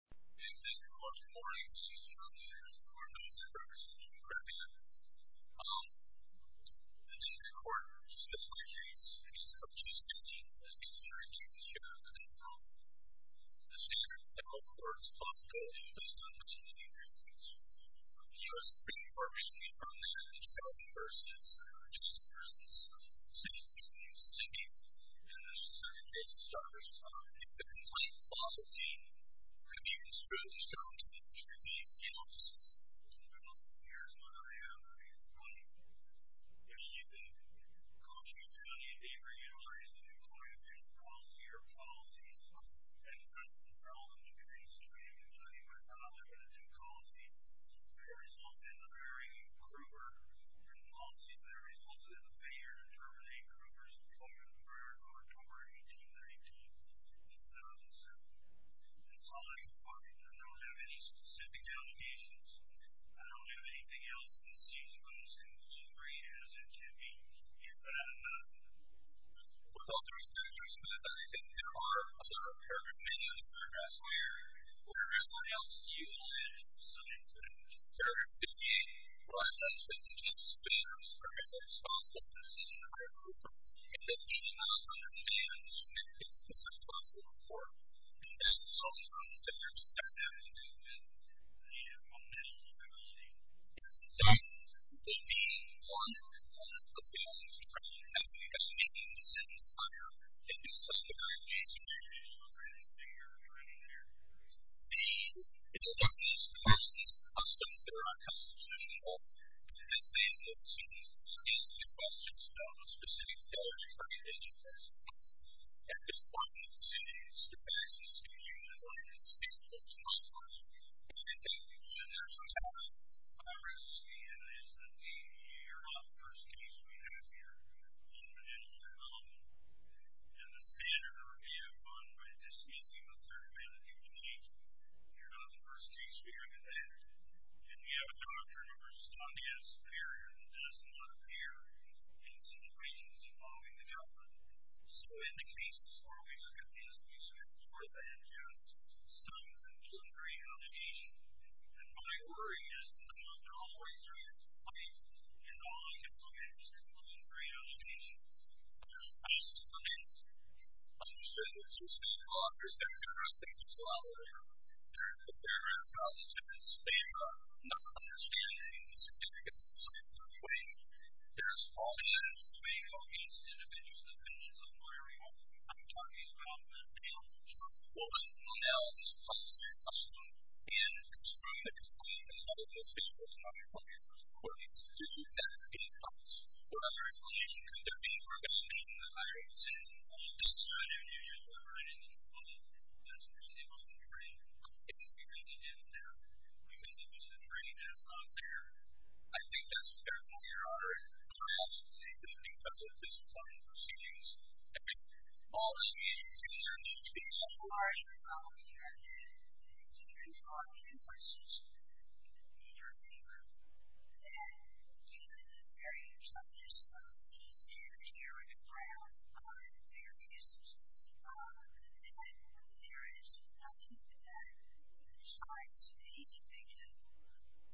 In the District Court's reporting on charges for misdemeanors and misdemeanors, which we'll get to in a minute, um, the District Court specifies that it is participating in the interrogation of the defendant. The standard of how court is possible is based on misdemeanors and misdemeanors. The U.S. Supreme Court recently found that in Shelby versus, uh, Johnson versus, um, Simmons, if you use Simmons, in the case of Sharp versus Johnson, you can spread the sound to the interviewee offices. Here's what I have. I mean, it's funny. You know, you can go to the interviewee and raise a new point of view policy or policies. And, for instance, there are a lot of interviews where you can tell they're going to do policies that result in a very crude word, or policies that result in a failure to terminate a group versus a I don't have any specific allegations. I don't have anything else that seems most incongruent as it can be. Here's what I have. With all due respect, Mr. Smith, I think there are a lot of perfect minutes for us here. We're going to have one else to you on it, so I'm going to put it to you. Perfect. Thank you. Well, I'd like to thank the two speakers for making this possible. This is incredible. And if he does not understand, he should make a specific possible report. And that's all I'm going to say. There's a second half to it. And I'm going to leave it at that. I'm going to leave it at that. So, the one component of being on this panel is that you've got to make these decisions on your own, and do some of the very basic things that you're doing here. The interviews, policies, and customs that are unconstitutional, and this means that students face the questions about a specific failure to terminate a group versus a class. At this point, I'm going to send these devices to you as long as it's available to my class. And I thank you for your time. I really understand this, that you're not the first case we have here on the dental development. And the standard review fund, but this may seem a third way that you've been named, you're not the first case we're going to have. And we have a doctor who we're studying as superior that does not appear in situations involving the government. So, in the cases where we look at this, we look at more than just some conjunctory allegations. And my worry is that they're all the way through the pipe, and all I can look at is conjunctory allegations. I still haven't understood what you're saying. Well, I understand that there are things that go out of order. There's the barrier of competence. There's not understanding the significance of something in the way. There's all that is going against individual dependents of lawyering. I'm talking about the nail shop. Well, the nail shop is their custom. And it's from the company that started this business, not from the first court. It's due at any cost. What other information could there be regarding that? I don't see anything. This is not a new user, right? And that's because it wasn't trained. It was created in there because it was trained as not there. I think that's a fair point, Your Honor. I also think that because of the disciplinary proceedings, I think all of these issues are linked to each other. Well, I think there's a lot of differences, in your view, that do vary in terms of the standards that are in the ground on their cases. And there is nothing that decides the individual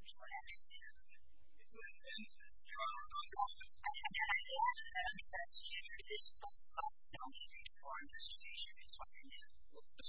Your Honor, I have a question. If you would amend the charge on the office of the attorney general, I would ask you to discuss the policy requirements that you should be talking about. The standard is that there is a political distinction between the claims that have been criminally suffered, the trans-experts convicted of sexual offence, and sexual or human felonies, etc. In the Oregon case, there is no such reference. I believe that the conviction is to be in the statute of limitations, and the permition after that is responsible. I'm looking at it from a position of view that I do not see any obvious country evidence ofoo the criminal offences described in the statute. Usually the compty station is the individual guilty. And that's, Your Honor. The option that is provided, if it offers a condition for continuing the OMG. Is it applicable to all departments of the High School, but if it's not set down in the statute, it has to be in the statute. But it's not in our jurisdiction. So, Your Honor, I'm going to use these prosecutors' names so that there are better notions.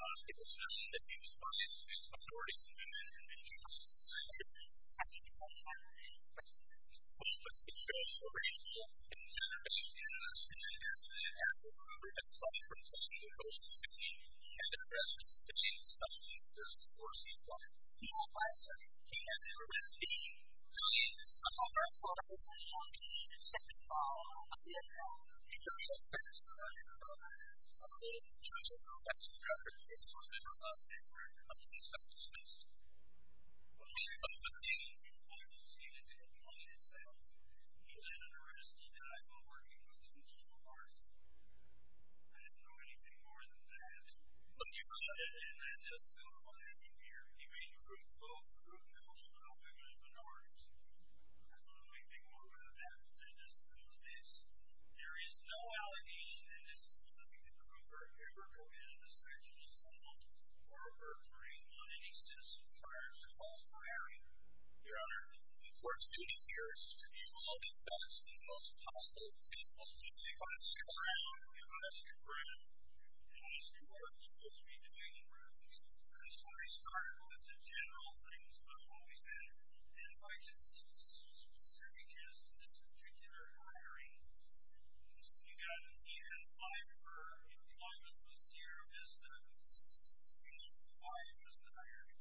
It was found that he was punished with authority to remain in conviction. I'm sorry, Your Honor. How did you know that? Well, because it shows a reasonable consideration in the statute, and we're going to have to suffer from something that goes from 15, and then the rest of the 15, especially if there's a foreseeable He had a license. He had a license. He was a member of the National Police Department, a member of the National Police Department, and a member of the National Police Department. It's a member of a group of police officers. Well, we were talking with him and he had a license, and we had money and stuff. He had a license and I've been working with him for a long time. I didn't know anything more than that. But you did, and I just knew it wasn't in here. He ran a group of group jobs for the women of the North. I didn't know anything more than that. I just knew this. There is no allegation in this that he was looking for a member of the National Assembly or a member on any sense of prior to the home firing, Your Honor. We're speaking here to give all the facts as much as possible and only because you have your ground. You have your ground. And you are supposed to be doing your business. I just want to start with the general things about what we said. And if I could speak specifically to this particular hiring. You've got the event file for employment this year is that the file was not hired.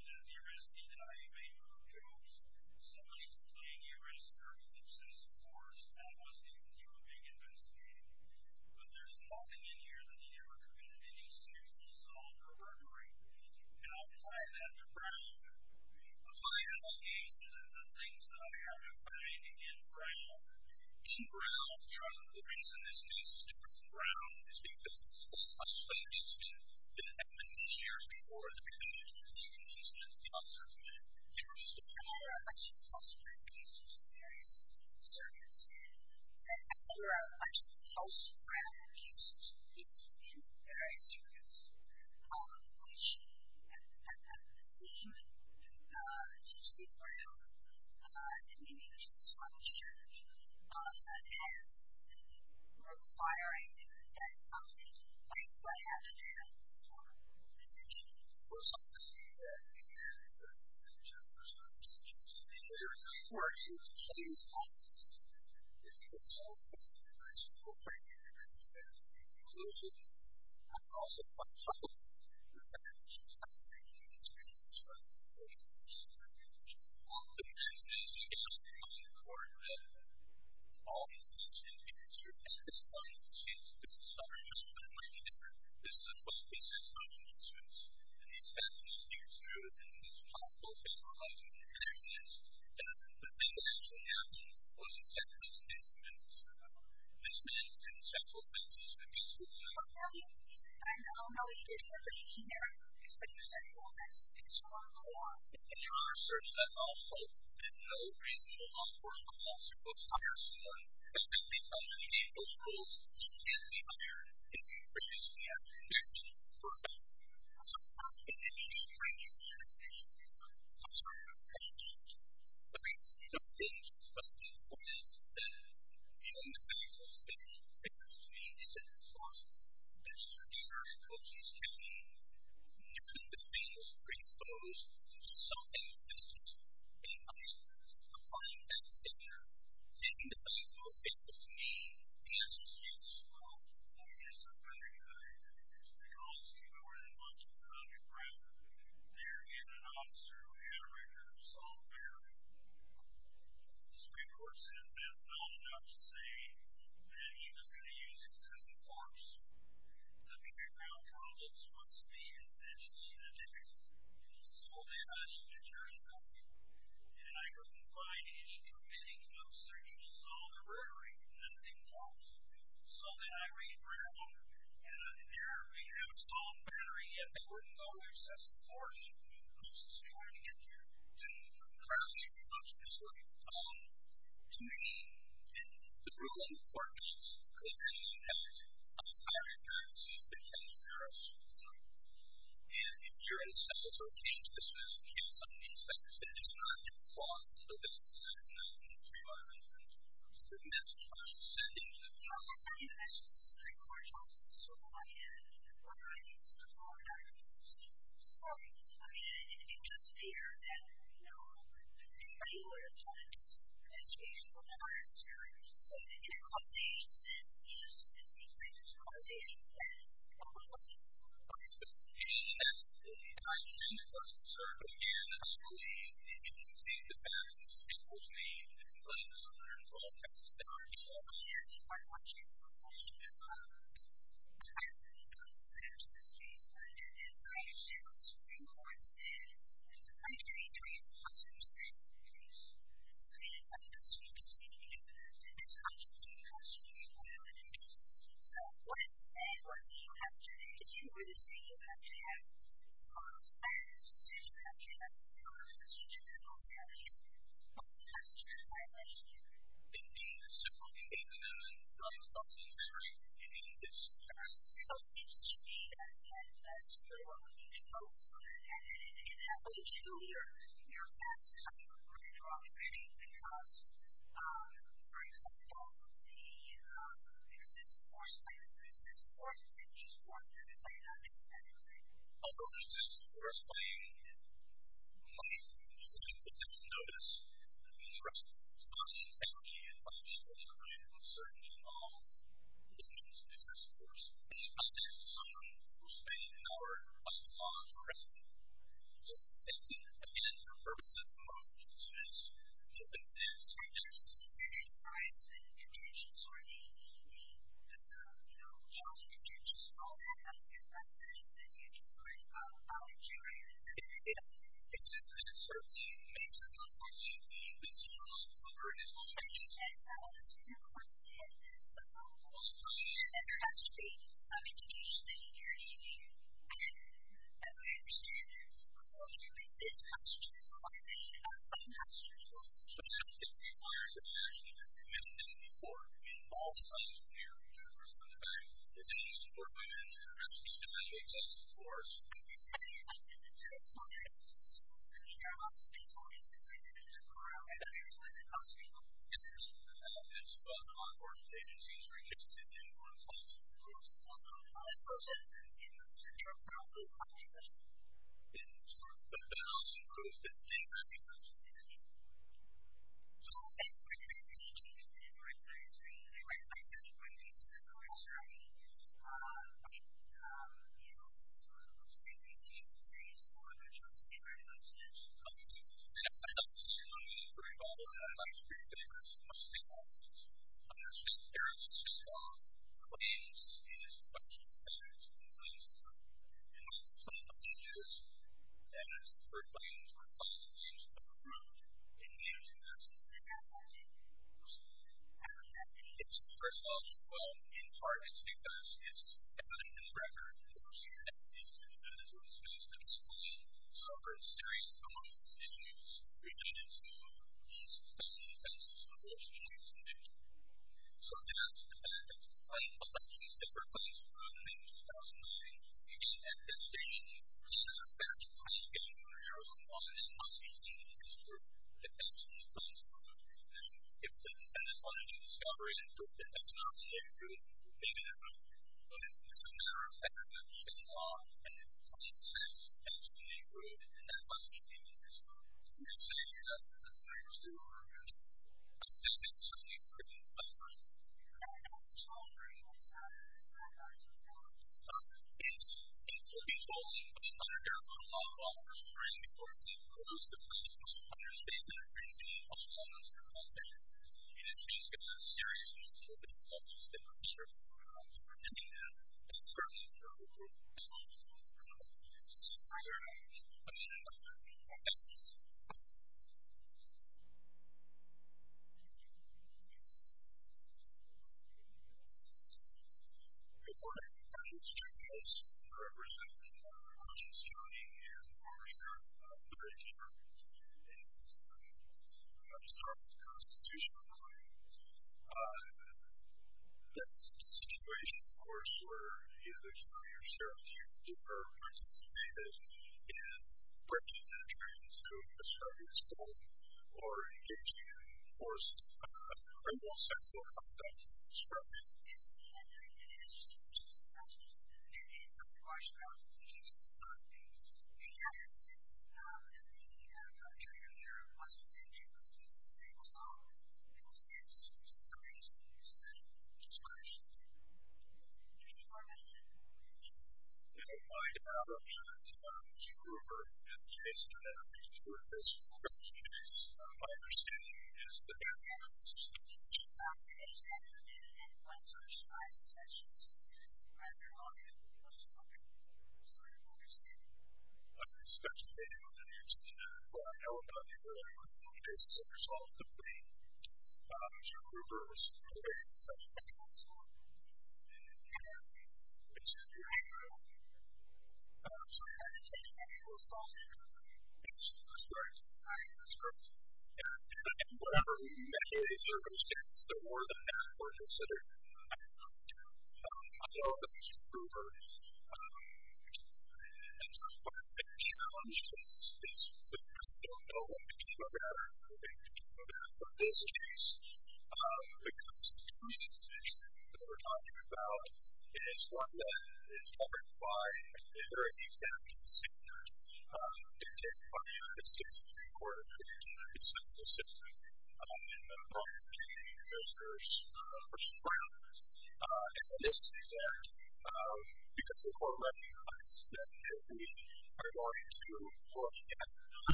You know, the arrestee that I made for a group job was somebody who played the arrest or was obsessed, of course, and was a hero being investigated. But there's nothing in here that he ever committed any serious assault or murdering. And I'll call that the ground. The fire cases are the things that I have in mind. Again, ground. In ground, Your Honor, the reason this case is different from ground is because it's a hospital case that happened years before the beginning of this new incident with the officer who had been arrested. I've had a number of actual hospital cases in various circumstances. I've had a number of actual house crime cases in various circumstances. Um, which, as a decision, uh, to speak for him, uh, in the nature of the scholarship, um, has been requiring that something like what happened to him be formed in the decision. Well, some of the things that we had in terms of the decisions were, of course, in the same context that people felt that there was appropriate inclusion I also find helpful in the fact that she was not the first woman to have been charged with sexual abuse. Um, the transvestite gang were known for, uh, all these types of incidents. You're taking this one to Southern California where this was a 12 piece emotional experience. And these were men and several women who had been charged with sexual abuse. And certain as also that no reasonable law force could possibly hire someone who had been charged with sexual abuse. And I think that there is a need for that to be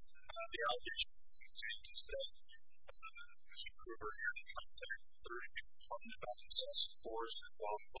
addressed. And I think that that is a need for that to be addressed. And I think that there is a need for that to be addressed. And that a need for that to be addressed. And I think that there is a need for that to be that to be addressed. And I think that there is a need for that to be addressed.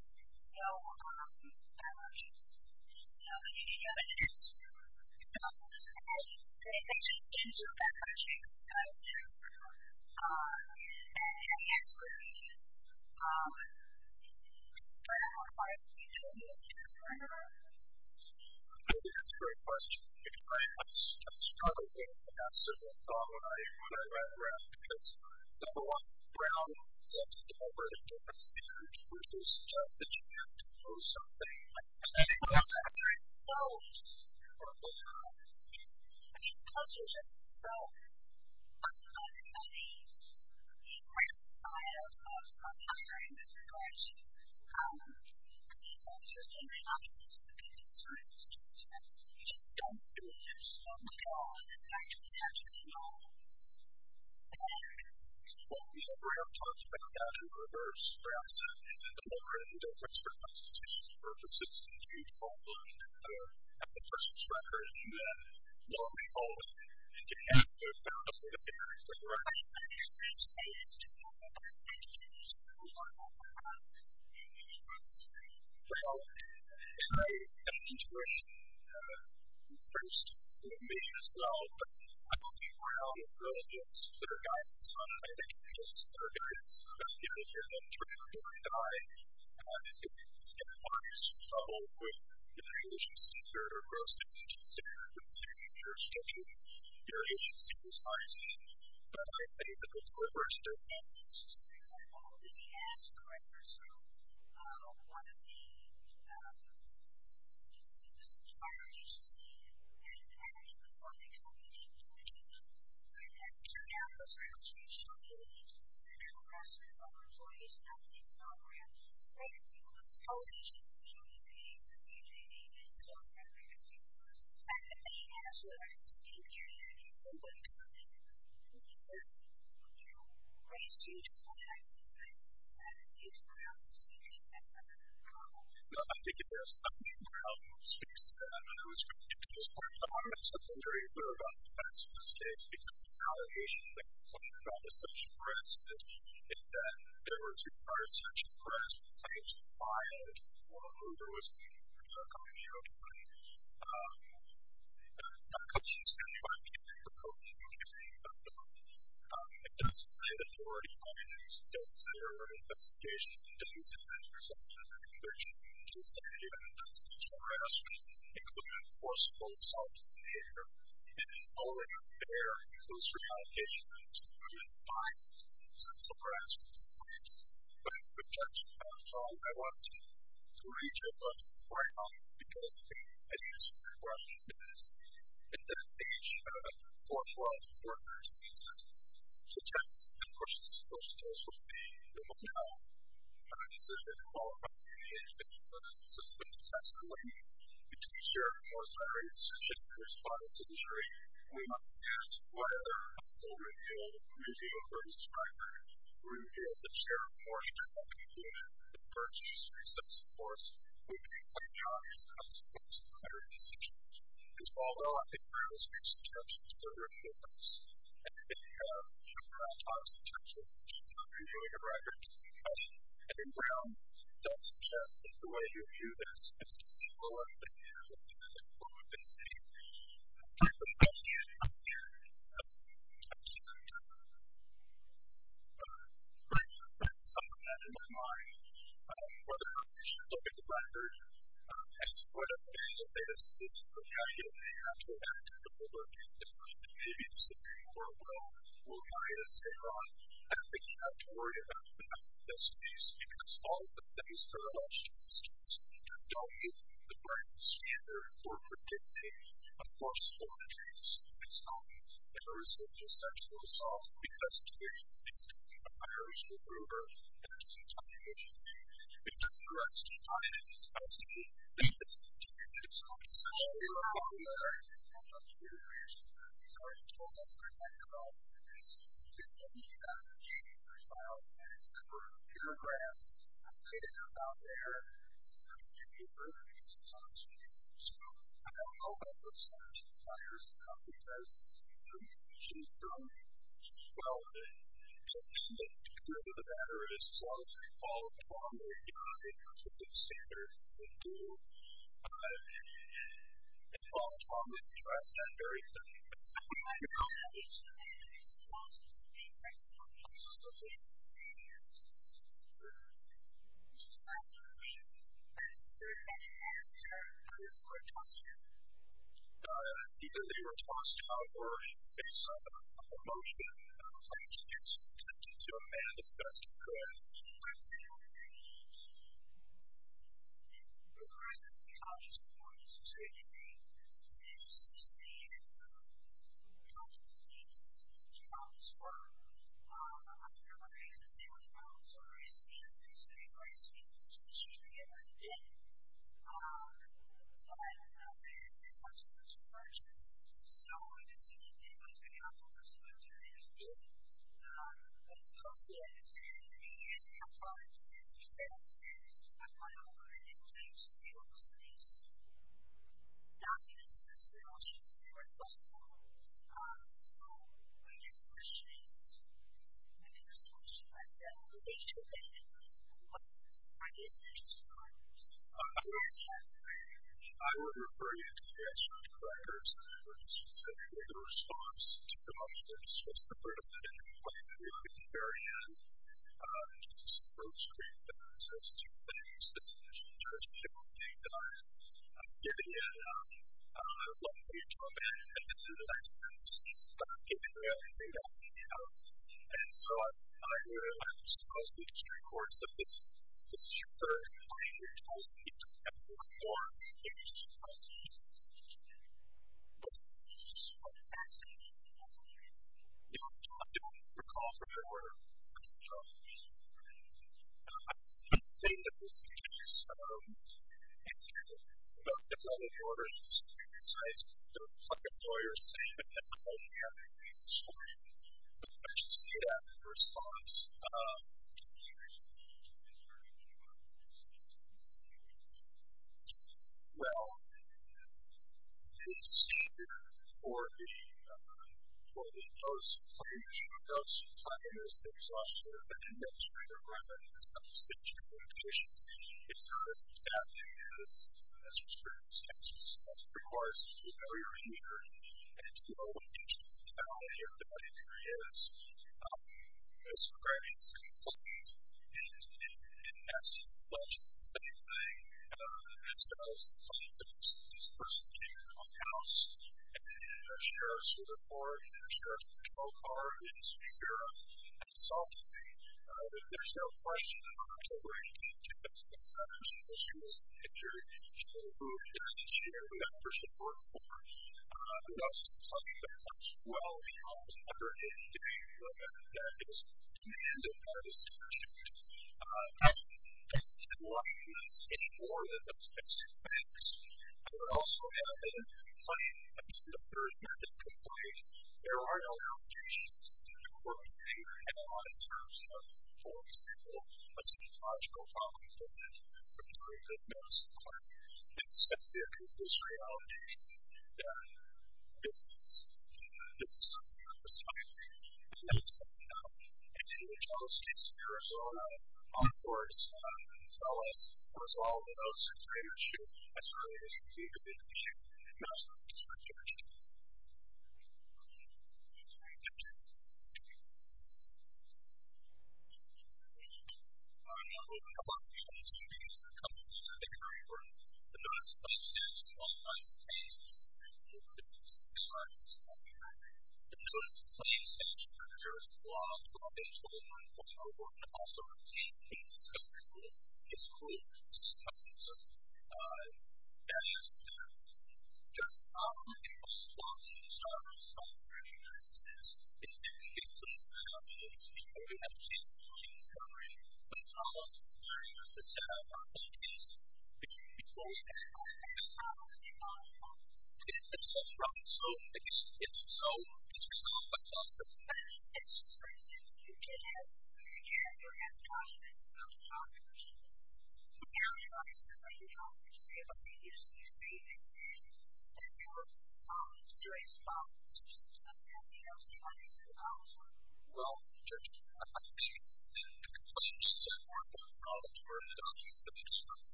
And